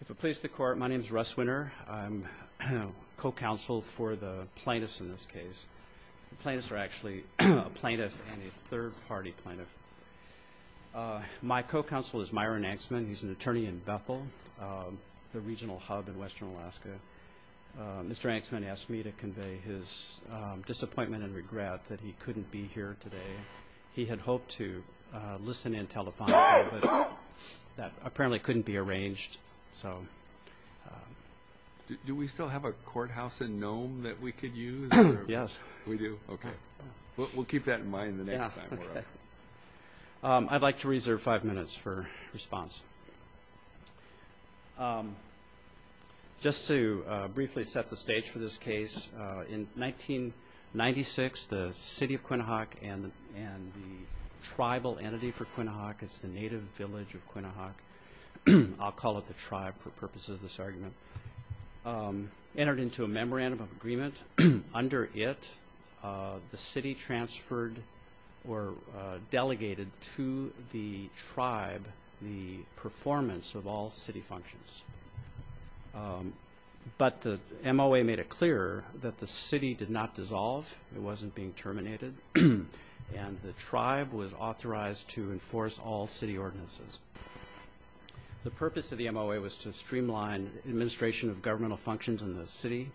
If it pleases the Court, my name is Russ Winner. I'm co-counsel for the plaintiffs in this case. The plaintiffs are actually a plaintiff and a third-party plaintiff. My co-counsel is Myron Anksman. He's an attorney in Bethel, the regional hub in western Alaska. Mr. Anksman asked me to convey his disappointment and regret that he couldn't be here today. He had hoped to listen in telephonically, but that apparently couldn't be arranged. Do we still have a courthouse in Nome that we could use? Yes. We do? Okay. We'll keep that in mind the next time we're up. I'd like to reserve five minutes for response. Just to briefly set the stage for this case, in 1996 the city of Quinnahock and the tribal entity for Quinnahock, it's the native village of Quinnahock, I'll call it the tribe for purposes of this argument, entered into a memorandum of agreement. Under it, the city transferred or delegated to the tribe the performance of all city functions. But the MOA made it clear that the city did not dissolve, it wasn't being terminated, and the tribe was authorized to enforce all city ordinances. The purpose of the MOA was to streamline administration of governmental functions in the city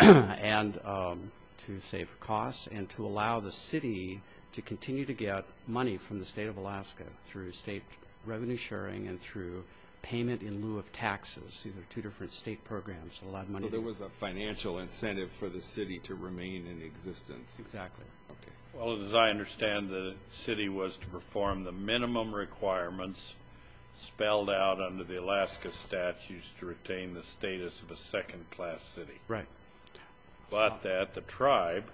and to save costs and to allow the city to continue to get money from the state of Alaska through state revenue sharing and through payment in lieu of taxes, two different state programs that allowed money to be paid. So there was a financial incentive for the city to remain in existence. Exactly. Okay. Well, as I understand, the city was to perform the minimum requirements spelled out under the Alaska statutes to retain the status of a second-class city. Right. But that the tribe,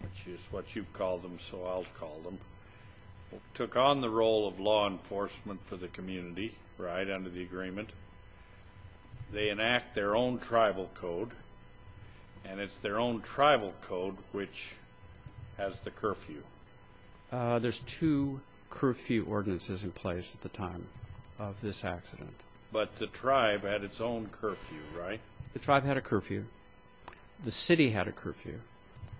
which is what you call them so I'll call them, took on the role of law enforcement for the community right under the agreement. They enact their own tribal code, and it's their own tribal code which has the curfew. There's two curfew ordinances in place at the time of this accident. But the tribe had its own curfew, right? The tribe had a curfew. The city had a curfew.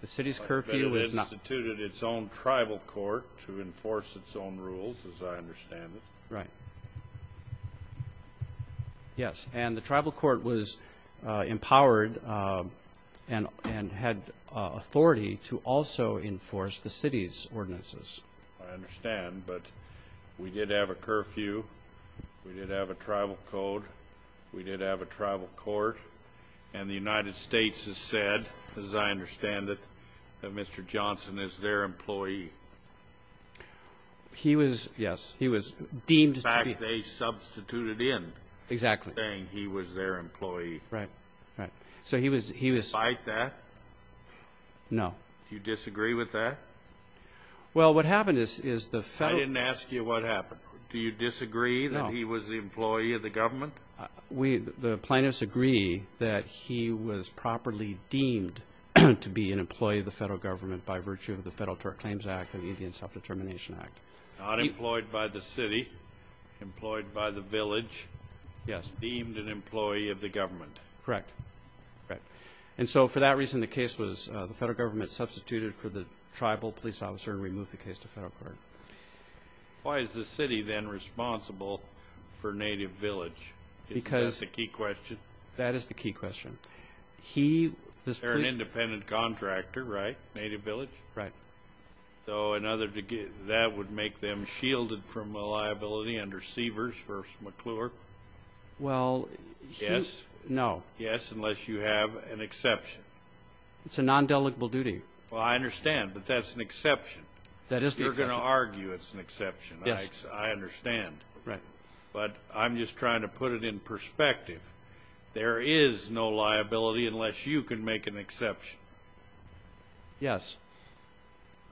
The city's curfew was not. But it instituted its own tribal court to enforce its own rules, as I understand it. Right. Yes. And the tribal court was empowered and had authority to also enforce the city's ordinances. I understand. But we did have a curfew. We did have a tribal code. We did have a tribal court. And the United States has said, as I understand it, that Mr. Johnson is their employee. He was, yes, he was deemed to be. They substituted in. Exactly. Saying he was their employee. Right. Right. So he was... Despite that? No. Do you disagree with that? Well, what happened is the federal... I didn't ask you what happened. Do you disagree that he was the employee of the government? No. The plaintiffs agree that he was properly deemed to be an employee of the federal government by virtue of the Federal Tort Claims Act and the Indian Self-Determination Act. Not employed by the city. Employed by the village. Yes. Deemed an employee of the government. Correct. Right. And so for that reason, the case was the federal government substituted for the tribal police officer and removed the case to federal court. Why is the city then responsible for Native Village? Because... Is that the key question? That is the key question. He... They're an independent contractor, right? Native Village? Right. So that would make them shielded from a liability under Seavers v. McClure? Well... Yes. No. Yes, unless you have an exception. It's a non-delegable duty. Well, I understand, but that's an exception. That is the exception. You're going to argue it's an exception. Yes. I understand. But I'm just trying to put it in perspective. There is no liability unless you can make an exception. Yes.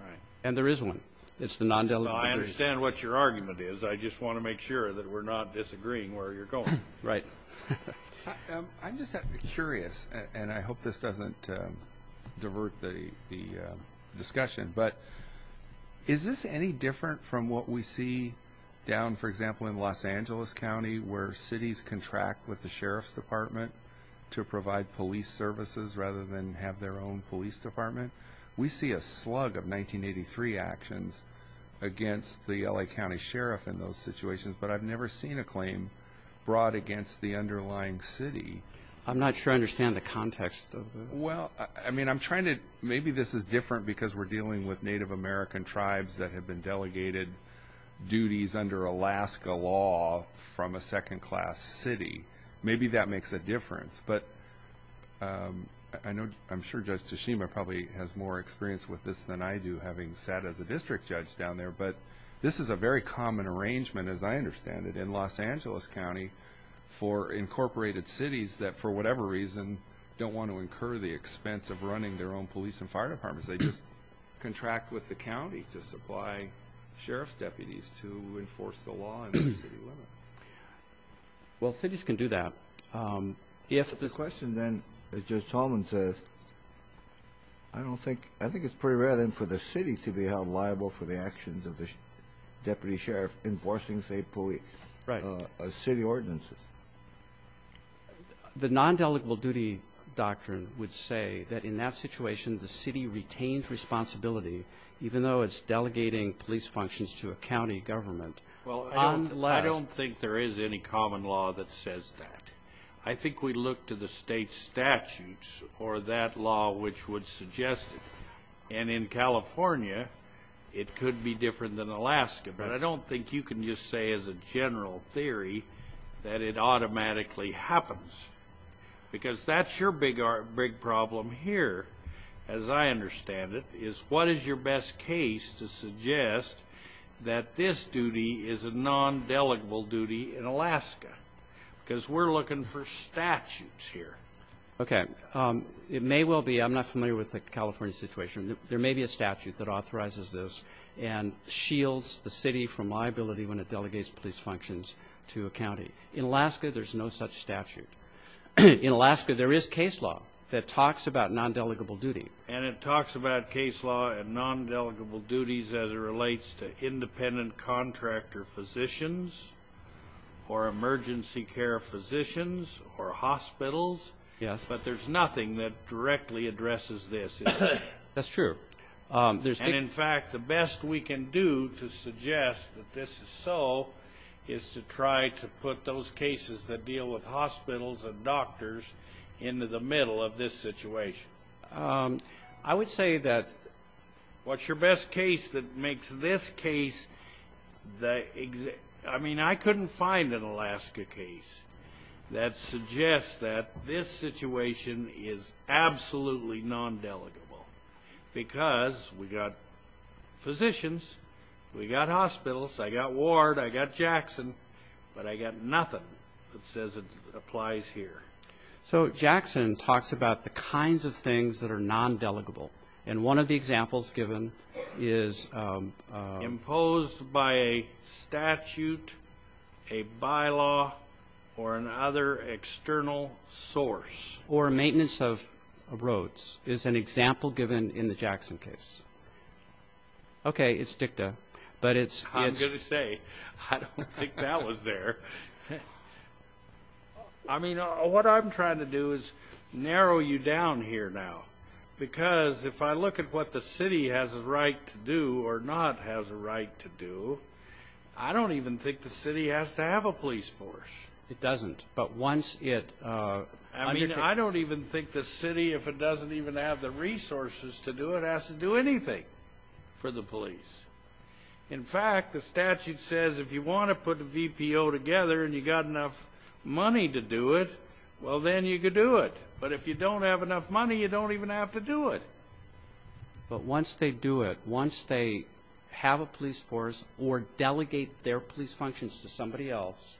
Right. And there is one. It's the non-delegable duty. Well, I understand what your argument is. I just want to make sure that we're not disagreeing where you're going. Right. I'm just curious, and I hope this doesn't divert the discussion, but is this any different from what we see down, for example, in Los Angeles County where cities contract with the Sheriff's Department to provide police services rather than have their own police department? We see a slug of 1983 actions against the L.A. County Sheriff in those situations, but I've never seen a claim brought against the underlying city. I'm not sure I understand the context of this. Well, I mean, I'm trying to... Maybe this is different because we're dealing with Native American tribes that have been delegated duties under Alaska law from a second-class city. Maybe that makes a difference, but I'm sure Judge Tashima probably has more experience with this than I do, having sat as a district judge down there, but this is a very common arrangement, as I understand it, in Los Angeles County for incorporated cities that, for whatever reason, don't want to incur the expense of running their own police and fire departments. They just contract with the county to supply sheriff's deputies to enforce the law under the city limit. Well, cities can do that. The question then, as Judge Tolman says, I think it's pretty rare then for the city to be held liable for the actions of the deputy sheriff enforcing, say, police city ordinances. The non-delegable duty doctrine would say that in that situation the city retains responsibility, even though it's delegating police functions to a county government. Well, I don't think there is any common law that says that. I think we look to the state statutes or that law which would suggest it, and in California it could be different than Alaska, but I don't think you can just say as a general theory that it automatically happens because that's your big problem here, as I understand it, is what is your best case to suggest that this duty is a non-delegable duty in Alaska because we're looking for statutes here. Okay. It may well be. I'm not familiar with the California situation. There may be a statute that authorizes this and shields the city from liability when it delegates police functions to a county. In Alaska there's no such statute. In Alaska there is case law that talks about non-delegable duty. And it talks about case law and non-delegable duties as it relates to independent contractor physicians or emergency care physicians or hospitals. Yes. But there's nothing that directly addresses this, is there? That's true. And, in fact, the best we can do to suggest that this is so is to try to put those cases that deal with hospitals and doctors into the middle of this situation. I would say that what's your best case that makes this case the exact one? I mean, I couldn't find an Alaska case that suggests that this situation is absolutely non-delegable because we've got physicians, we've got hospitals, I've got Ward, I've got Jackson, but I've got nothing that says it applies here. So Jackson talks about the kinds of things that are non-delegable, and one of the examples given is imposed by a statute, a bylaw, or another external source. Or maintenance of roads is an example given in the Jackson case. Okay, it's dicta, but it's... I'm going to say I don't think that was there. I mean, what I'm trying to do is narrow you down here now because if I look at what the city has a right to do or not has a right to do, I don't even think the city has to have a police force. It doesn't. But once it undertakes... I mean, I don't even think the city, if it doesn't even have the resources to do it, has to do anything for the police. In fact, the statute says if you want to put a VPO together and you've got enough money to do it, well, then you could do it. But if you don't have enough money, you don't even have to do it. But once they do it, once they have a police force or delegate their police functions to somebody else,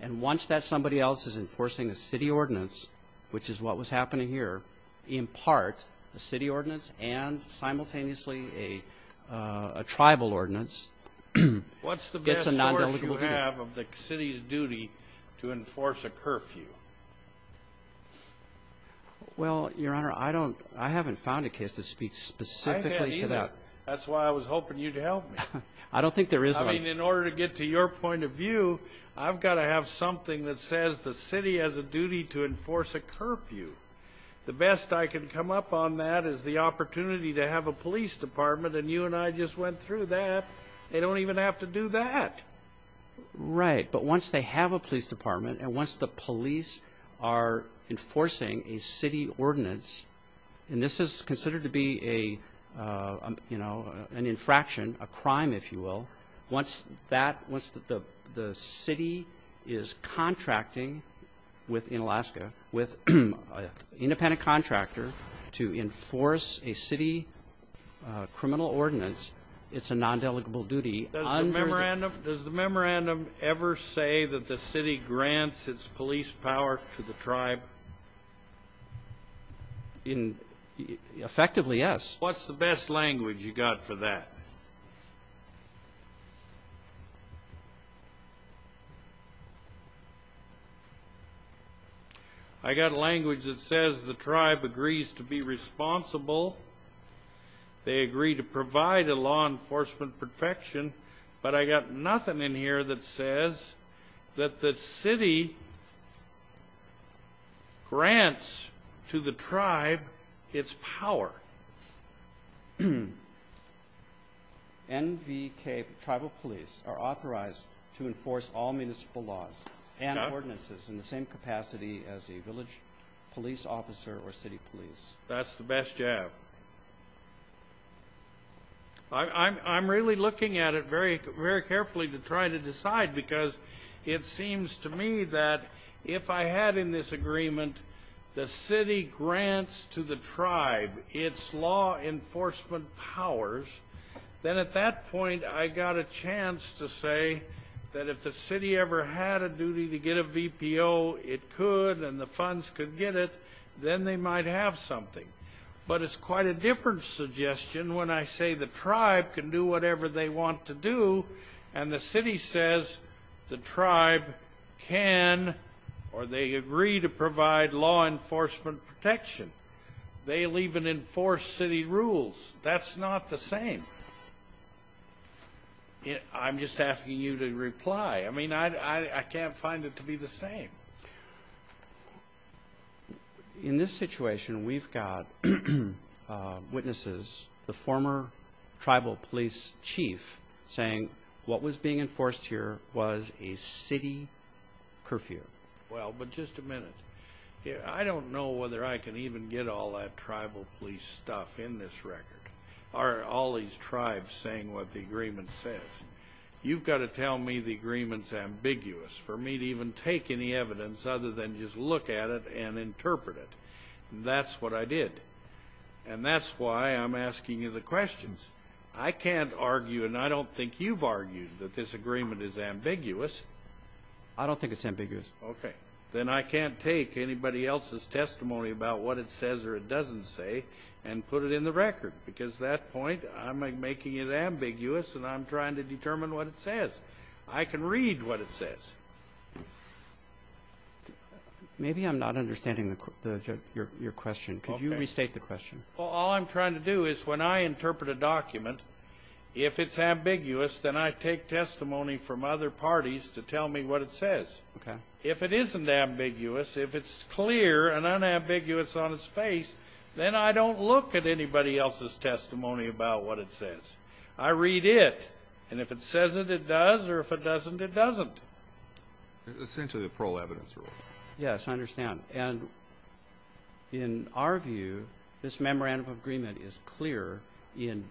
and once that somebody else is enforcing a city ordinance, which is what was happening here, in part a city ordinance and simultaneously a tribal ordinance, it's a non-delegable duty. What's the best source you have of the city's duty to enforce a curfew? Well, Your Honor, I haven't found a case that speaks specifically to that. I haven't either. That's why I was hoping you'd help me. I don't think there is one. I mean, in order to get to your point of view, I've got to have something that says the city has a duty to enforce a curfew. The best I can come up on that is the opportunity to have a police department, and you and I just went through that. They don't even have to do that. Right, but once they have a police department and once the police are enforcing a city ordinance, and this is considered to be an infraction, a crime, if you will, once the city is contracting in Alaska with an independent contractor to enforce a city criminal ordinance, it's a non-delegable duty. Does the memorandum ever say that the city grants its police power to the tribe? Effectively, yes. What's the best language you've got for that? I've got a language that says the tribe agrees to be responsible. They agree to provide a law enforcement protection, but I've got nothing in here that says that the city grants to the tribe its power. NVK tribal police are authorized to enforce all municipal laws and ordinances in the same capacity as a village police officer or city police. That's the best you have. I'm really looking at it very carefully to try to decide because it seems to me that if I had in this agreement the city grants to the tribe its law enforcement powers, then at that point I got a chance to say that if the city ever had a duty to get a VPO, it could and the funds could get it, then they might have something. But it's quite a different suggestion when I say the tribe can do whatever they want to do and the city says the tribe can or they agree to provide law enforcement protection. They'll even enforce city rules. That's not the same. I'm just asking you to reply. I mean, I can't find it to be the same. In this situation, we've got witnesses, the former tribal police chief, saying what was being enforced here was a city curfew. Well, but just a minute. I don't know whether I can even get all that tribal police stuff in this record or all these tribes saying what the agreement says. You've got to tell me the agreement's ambiguous for me to even take any evidence other than just look at it and interpret it. That's what I did. And that's why I'm asking you the questions. I can't argue, and I don't think you've argued, that this agreement is ambiguous. I don't think it's ambiguous. Okay. Then I can't take anybody else's testimony about what it says or it doesn't say and put it in the record because at that point I'm making it ambiguous and I'm trying to determine what it says. I can read what it says. Maybe I'm not understanding your question. Could you restate the question? Well, all I'm trying to do is when I interpret a document, if it's ambiguous, then I take testimony from other parties to tell me what it says. If it isn't ambiguous, if it's clear and unambiguous on its face, then I don't look at anybody else's testimony about what it says. I read it. And if it says it, it does, or if it doesn't, it doesn't. It's essentially a parole evidence rule. Yes, I understand. And in our view, this memorandum of agreement is clear in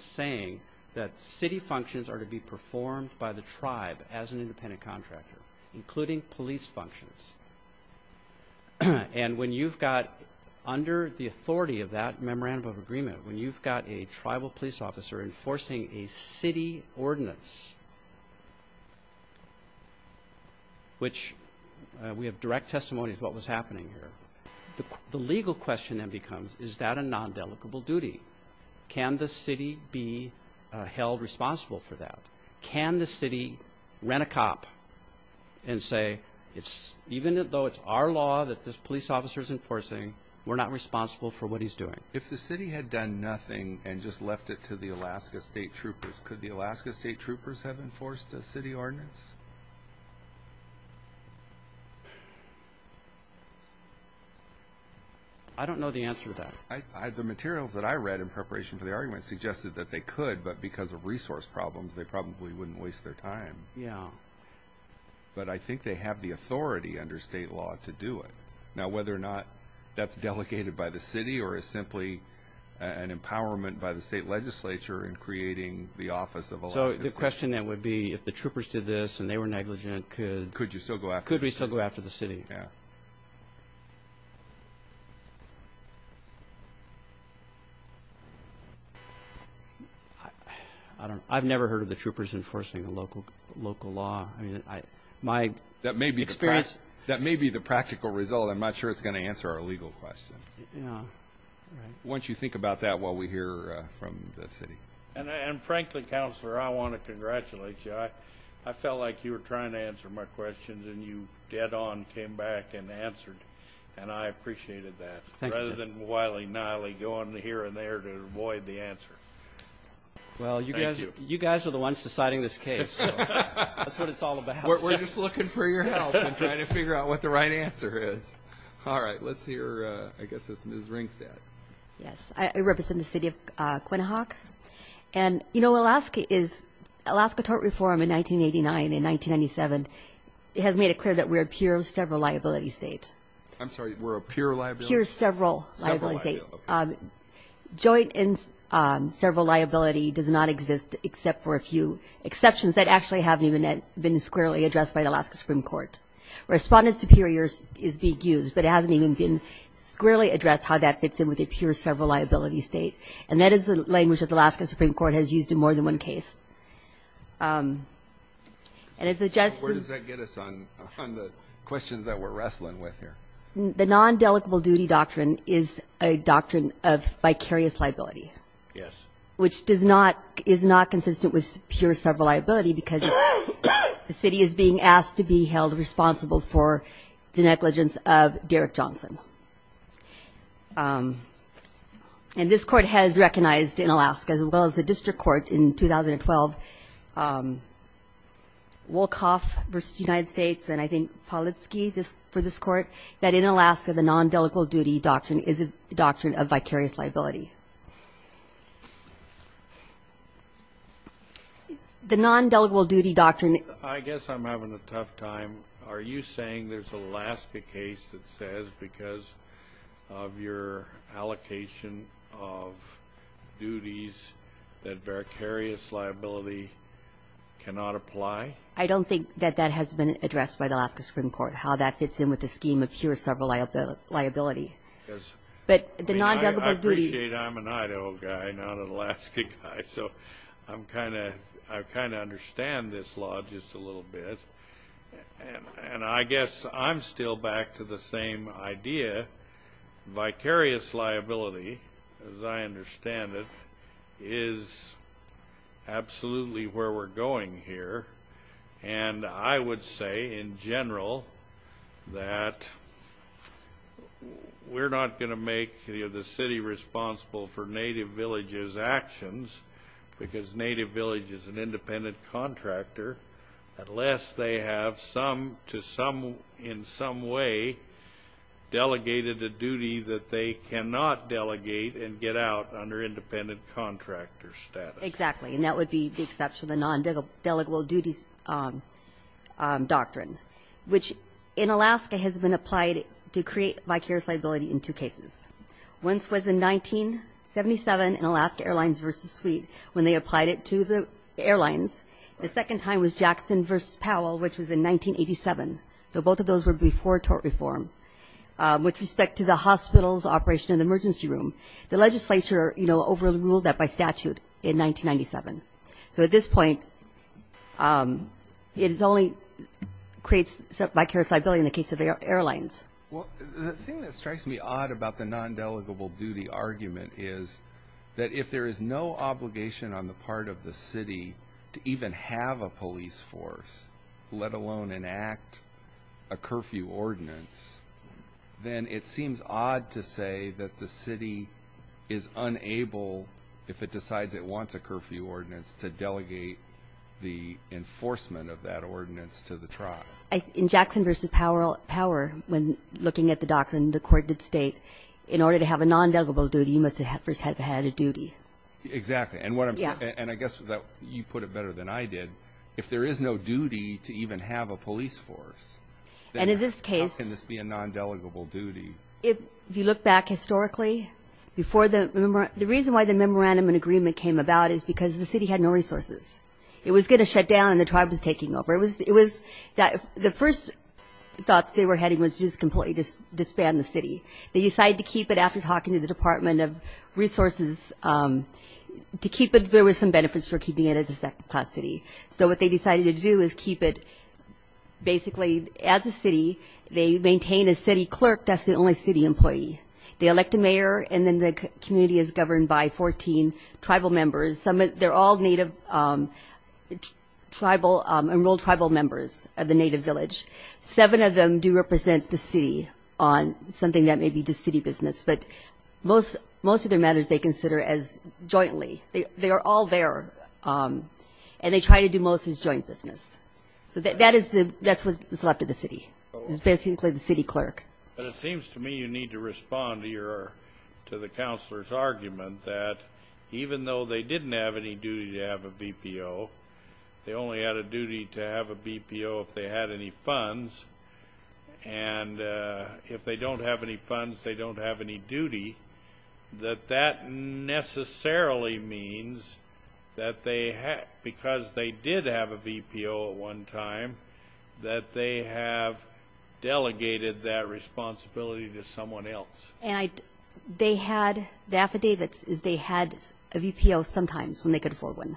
saying that city functions are to be performed by the tribe as an independent contractor, including police functions. And when you've got under the authority of that memorandum of agreement, when you've got a tribal police officer enforcing a city ordinance, which we have direct testimony of what was happening here, the legal question then becomes is that a non-dedicable duty? Can the city be held responsible for that? Can the city rent a cop and say even though it's our law that this police officer is enforcing, we're not responsible for what he's doing? If the city had done nothing and just left it to the Alaska State Troopers, could the Alaska State Troopers have enforced a city ordinance? I don't know the answer to that. The materials that I read in preparation for the argument suggested that they could, but because of resource problems, they probably wouldn't waste their time. Yeah. But I think they have the authority under state law to do it. Now, whether or not that's delegated by the city or is simply an empowerment by the state legislature in creating the office of Alaska State Troopers. So the question then would be if the troopers did this and they were negligent, could we still go after the city? Yeah. I've never heard of the troopers enforcing a local law. That may be the practical result. I'm not sure it's going to answer our legal question. Why don't you think about that while we hear from the city? And frankly, Counselor, I want to congratulate you. I felt like you were trying to answer my questions and you dead on came back and answered, and I appreciated that rather than Wiley-Niley going here and there to avoid the answer. Well, you guys are the ones deciding this case. That's what it's all about. We're just looking for your help in trying to figure out what the right answer is. All right. Let's hear, I guess it's Ms. Ringstadt. Yes. I represent the city of Quinnahawk. And, you know, Alaska tort reform in 1989 and 1997 has made it clear that we're a pure several liability state. I'm sorry. We're a pure liability? Pure several liability state. Joint and several liability does not exist except for a few exceptions that actually haven't even been squarely addressed by the Alaska Supreme Court. Respondent superiors is being used, but it hasn't even been squarely addressed how that fits in with a pure several liability state. And that is the language that the Alaska Supreme Court has used in more than one case. And as the Justice — Where does that get us on the questions that we're wrestling with here? The non-delicable duty doctrine is a doctrine of vicarious liability. Yes. Which does not — is not consistent with pure several liability because the city is being asked to be held responsible for the negligence of Derek Johnson. And this court has recognized in Alaska, as well as the district court in 2012, Wolkoff v. United States, and I think Palitzky for this court, that in Alaska the non-delicable duty doctrine is a doctrine of vicarious liability. The non-delicable duty doctrine — I guess I'm having a tough time. Are you saying there's an Alaska case that says because of your allocation of duties that vicarious liability cannot apply? I don't think that that has been addressed by the Alaska Supreme Court, how that fits in with the scheme of pure several liability. But the non-delicable duty — I appreciate I'm an Idaho guy, not an Alaska guy, so I kind of understand this law just a little bit. And I guess I'm still back to the same idea. Vicarious liability, as I understand it, is absolutely where we're going here. And I would say in general that we're not going to make the city responsible for Native Village's actions because Native Village is an independent contractor unless they have in some way delegated a duty that they cannot delegate and get out under independent contractor status. Exactly, and that would be the exception to the non-delicable duties doctrine, which in Alaska has been applied to create vicarious liability in two cases. Once was in 1977 in Alaska Airlines v. Suite when they applied it to the airlines. The second time was Jackson v. Powell, which was in 1987. So both of those were before tort reform. With respect to the hospital's operation and emergency room, the legislature overruled that by statute in 1997. So at this point, it only creates vicarious liability in the case of the airlines. Well, the thing that strikes me odd about the non-delegable duty argument is that if there is no obligation on the part of the city to even have a police force, let alone enact a curfew ordinance, then it seems odd to say that the city is unable, if it decides it wants a curfew ordinance, to delegate the enforcement of that ordinance to the tribe. In Jackson v. Powell, when looking at the doctrine, the coordinate state, in order to have a non-delegable duty, you must first have had a duty. Exactly. And I guess you put it better than I did. If there is no duty to even have a police force, how can this be a non-delegable duty? If you look back historically, the reason why the memorandum and agreement came about is because the city had no resources. It was going to shut down and the tribe was taking over. The first thoughts they were having was just completely disband the city. They decided to keep it after talking to the Department of Resources. To keep it, there were some benefits for keeping it as a second-class city. So what they decided to do is keep it basically as a city. They maintain a city clerk that's the only city employee. They elect a mayor, and then the community is governed by 14 tribal members. They're all enrolled tribal members of the native village. Seven of them do represent the city on something that may be just city business. But most of their matters they consider as jointly. They are all there, and they try to do most as joint business. So that is what's left of the city. It's basically the city clerk. But it seems to me you need to respond to the counselor's argument that even though they didn't have any duty to have a BPO, they only had a duty to have a BPO if they had any funds, and if they don't have any funds, they don't have any duty, that that necessarily means that because they did have a BPO at one time, that they have delegated that responsibility to someone else. The affidavit is they had a BPO sometimes when they could afford one.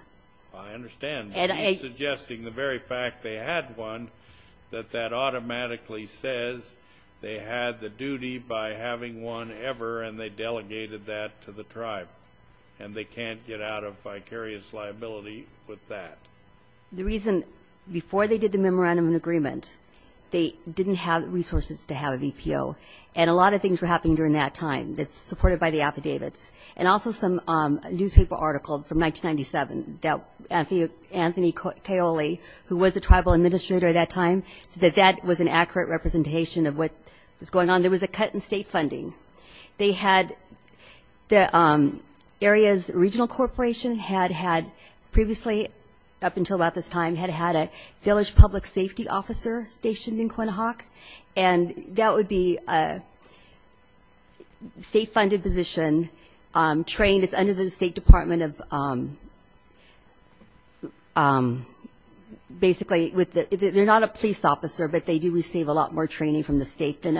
I understand. He's suggesting the very fact they had one, that that automatically says they had the duty by having one ever, and they delegated that to the tribe, and they can't get out of vicarious liability with that. The reason before they did the memorandum of agreement, they didn't have resources to have a BPO, and a lot of things were happening during that time. It's supported by the affidavits. And also some newspaper article from 1997, that Anthony Caioli, who was the tribal administrator at that time, said that that was an accurate representation of what was going on. There was a cut in state funding. They had the area's regional corporation had had previously, up until about this time, had had a village public safety officer stationed in Quinhag. And that would be a state-funded position, trained. It's under the State Department of basically with the – they're not a police officer, but they do receive a lot more training from the state than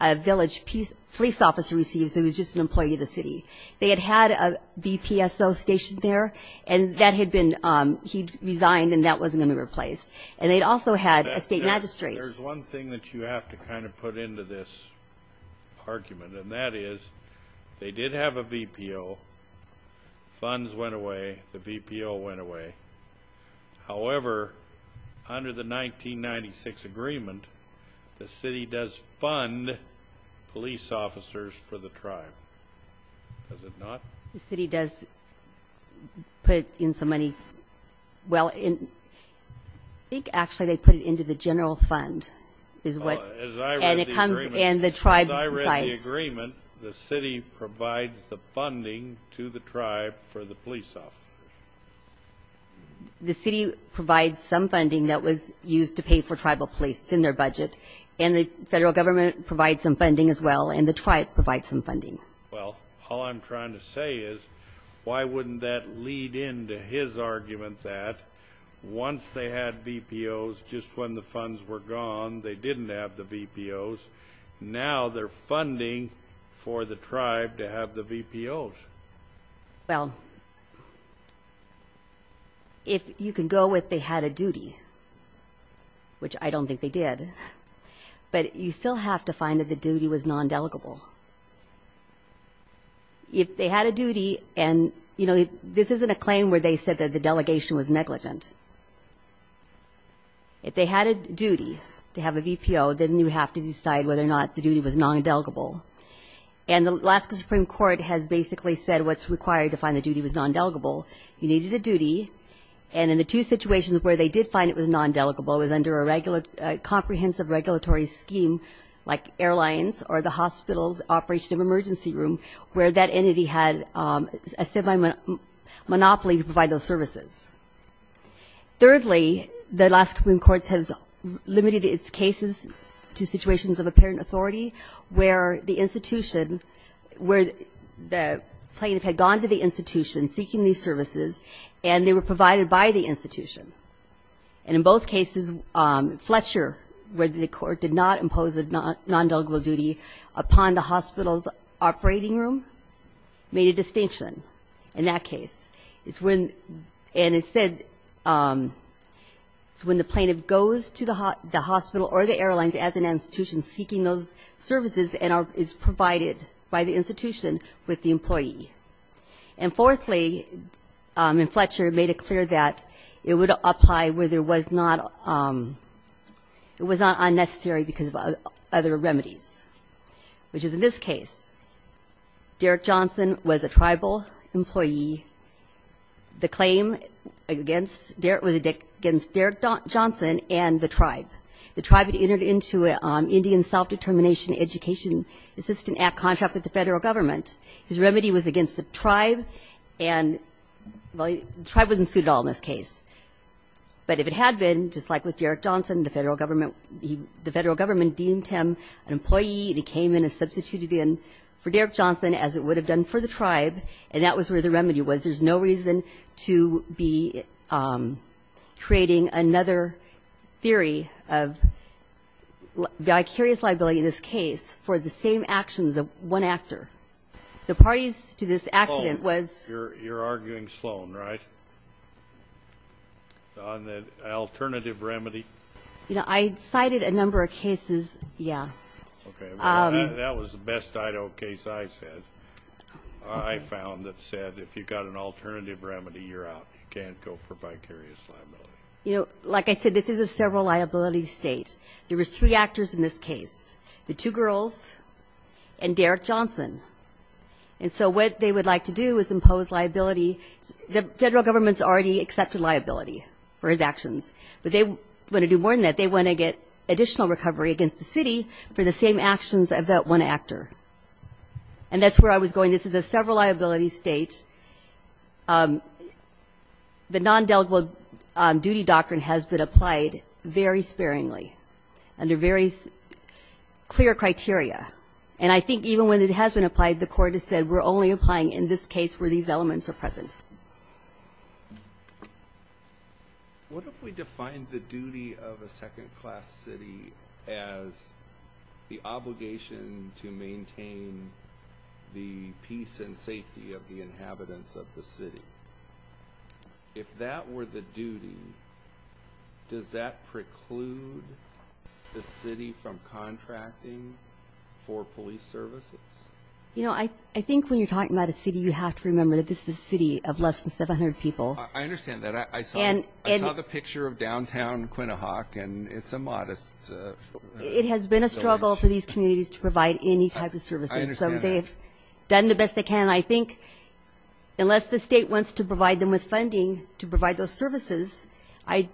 a village police officer receives. It was just an employee of the city. They had had a BPSO stationed there, and that had been – he resigned, and that wasn't going to be replaced. And they'd also had a state magistrate. There's one thing that you have to kind of put into this argument, and that is they did have a VPO. Funds went away. The VPO went away. However, under the 1996 agreement, the city does fund police officers for the tribe. Does it not? The city does put in some money. Well, I think actually they put it into the general fund. As I read the agreement, the city provides the funding to the tribe for the police officers. The city provides some funding that was used to pay for tribal police. It's in their budget. And the federal government provides some funding as well, and the tribe provides some funding. Well, all I'm trying to say is why wouldn't that lead into his argument that once they had VPOs, just when the funds were gone, they didn't have the VPOs. Now they're funding for the tribe to have the VPOs. Well, if you can go with they had a duty, which I don't think they did, but you still have to find that the duty was non-delegable. If they had a duty and, you know, this isn't a claim where they said that the delegation was negligent. If they had a duty to have a VPO, then you have to decide whether or not the duty was non-delegable. And the Alaska Supreme Court has basically said what's required to find the duty was non-delegable. You needed a duty, and in the two situations where they did find it was non-delegable, it was under a comprehensive regulatory scheme like airlines or the hospital's operation of emergency room, where that entity had a semi-monopoly to provide those services. Thirdly, the Alaska Supreme Court has limited its cases to situations of apparent authority, where the plaintiff had gone to the institution seeking these services, and they were provided by the institution. And in both cases, Fletcher, where the court did not impose a non-delegable duty upon the hospital's operating room, made a distinction in that case. And it said it's when the plaintiff goes to the hospital or the airlines as an institution seeking those services and is provided by the institution with the employee. And fourthly, and Fletcher made it clear that it would apply where there was not unnecessary because of other remedies, which is in this case, Derrick Johnson was a tribal employee. The claim against Derrick was against Derrick Johnson and the tribe. The tribe had entered into an Indian Self-Determination Education Assistance Act contract with the Federal Government. His remedy was against the tribe, and the tribe wasn't sued at all in this case. But if it had been, just like with Derrick Johnson, the Federal Government deemed him an employee, and he came in and substituted in for Derrick Johnson, as it would have done for the tribe, and that was where the remedy was. There's no reason to be creating another theory of vicarious liability in this case for the same actions of one actor. The parties to this accident was. Oh, you're arguing Sloan, right, on the alternative remedy? You know, I cited a number of cases, yeah. Okay. That was the best Idaho case I said I found that said if you've got an alternative remedy, you're out. You can't go for vicarious liability. You know, like I said, this is a several liability state. There were three actors in this case, the two girls and Derrick Johnson. And so what they would like to do is impose liability. The Federal Government's already accepted liability for his actions, but they want to do more than that. They want to get additional recovery against the city for the same actions of that one actor. And that's where I was going. This is a several liability state. The non-deliberate duty doctrine has been applied very sparingly under very clear criteria. And I think even when it has been applied, the court has said we're only applying in this case where these elements are present. What if we define the duty of a second-class city as the obligation to maintain the peace and safety of the inhabitants of the city? If that were the duty, does that preclude the city from contracting for police services? You know, I think when you're talking about a city, you have to remember that this is a city of less than 700 people. I understand that. I saw the picture of downtown Quinnahawk, and it's a modest situation. It has been a struggle for these communities to provide any type of services. I understand that. So they've done the best they can. I think unless the State wants to provide them with funding to provide those services, I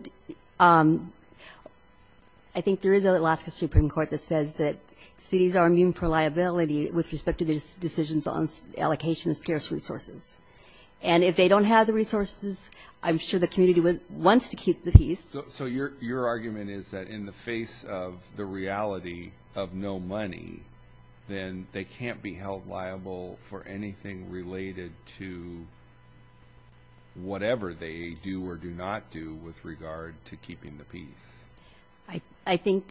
think there is an Alaska Supreme Court that says that cities are immune for liability with respect to decisions on allocation of scarce resources. And if they don't have the resources, I'm sure the community wants to keep the peace. So your argument is that in the face of the reality of no money, then they can't be held liable for anything related to whatever they do or do not do with regard to keeping the peace. I think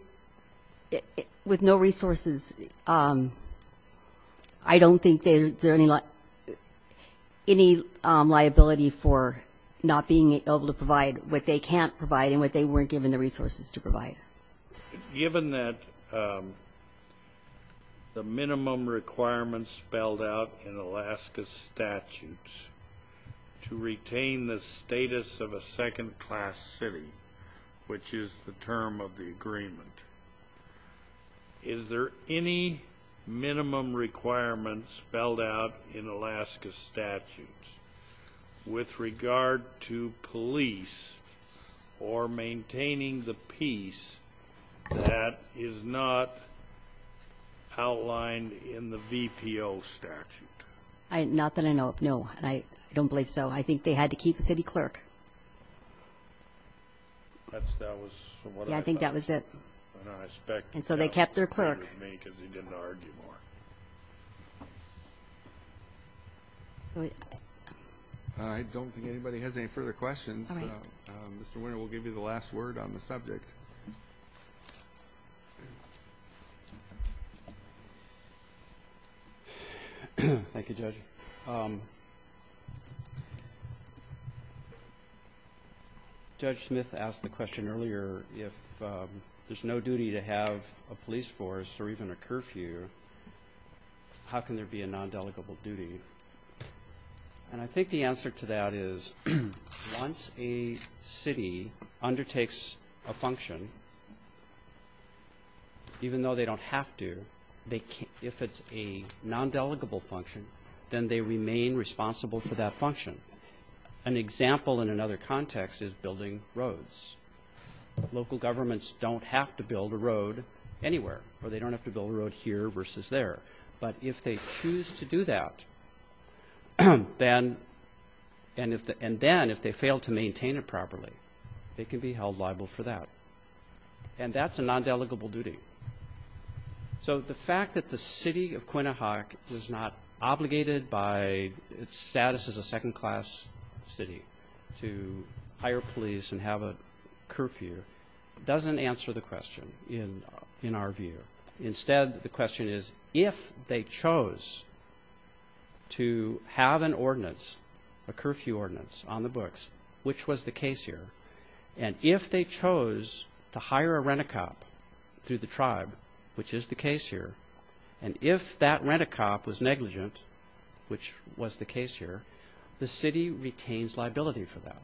with no resources, I don't think there's any liability for not being able to provide what they can't provide and what they weren't given the resources to provide. Given that the minimum requirements spelled out in Alaska statutes to retain the status of a second-class city, which is the term of the agreement, is there any minimum requirement spelled out in Alaska statutes with regard to police or maintaining the peace that is not outlined in the VPO statute? Not that I know of, no. I don't believe so. I think they had to keep a city clerk. I think that was it. And so they kept their clerk. I don't think anybody has any further questions. All right. Mr. Weiner, we'll give you the last word on the subject. Thank you, Judge. Judge Smith asked the question earlier, if there's no duty to have a police force or even a curfew, how can there be a non-delegable duty? And I think the answer to that is once a city undertakes a function, even though they don't have to, if it's a non-delegable function, then they remain responsible for that function. An example in another context is building roads. Local governments don't have to build a road anywhere, or they don't have to build a road here versus there. But if they choose to do that, and then if they fail to maintain it properly, they can be held liable for that. And that's a non-delegable duty. So the fact that the city of Quinnahock is not obligated by its status as a second-class city to hire police and have a curfew doesn't answer the question in our view. Instead, the question is if they chose to have an ordinance, a curfew ordinance on the books, which was the case here, and if they chose to hire a rent-a-cop through the tribe, which is the case here, and if that rent-a-cop was negligent, which was the case here, the city retains liability for that.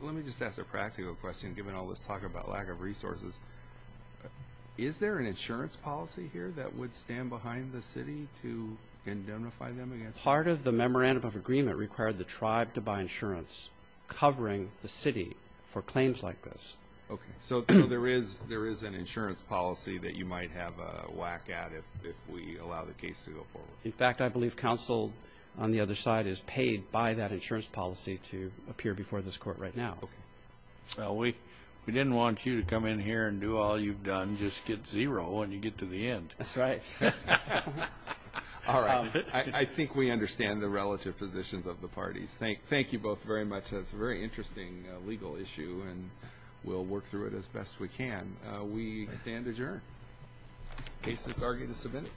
Let me just ask a practical question, given all this talk about lack of resources. Is there an insurance policy here that would stand behind the city to indemnify them against it? Part of the memorandum of agreement required the tribe to buy insurance covering the city for claims like this. Okay, so there is an insurance policy that you might have a whack at if we allow the case to go forward. In fact, I believe counsel on the other side is paid by that insurance policy to appear before this court right now. Okay. Well, we didn't want you to come in here and do all you've done, just get zero, and you get to the end. That's right. All right. I think we understand the relative positions of the parties. Thank you both very much. That's a very interesting legal issue, and we'll work through it as best we can. We stand adjourned. Case is argued and submitted.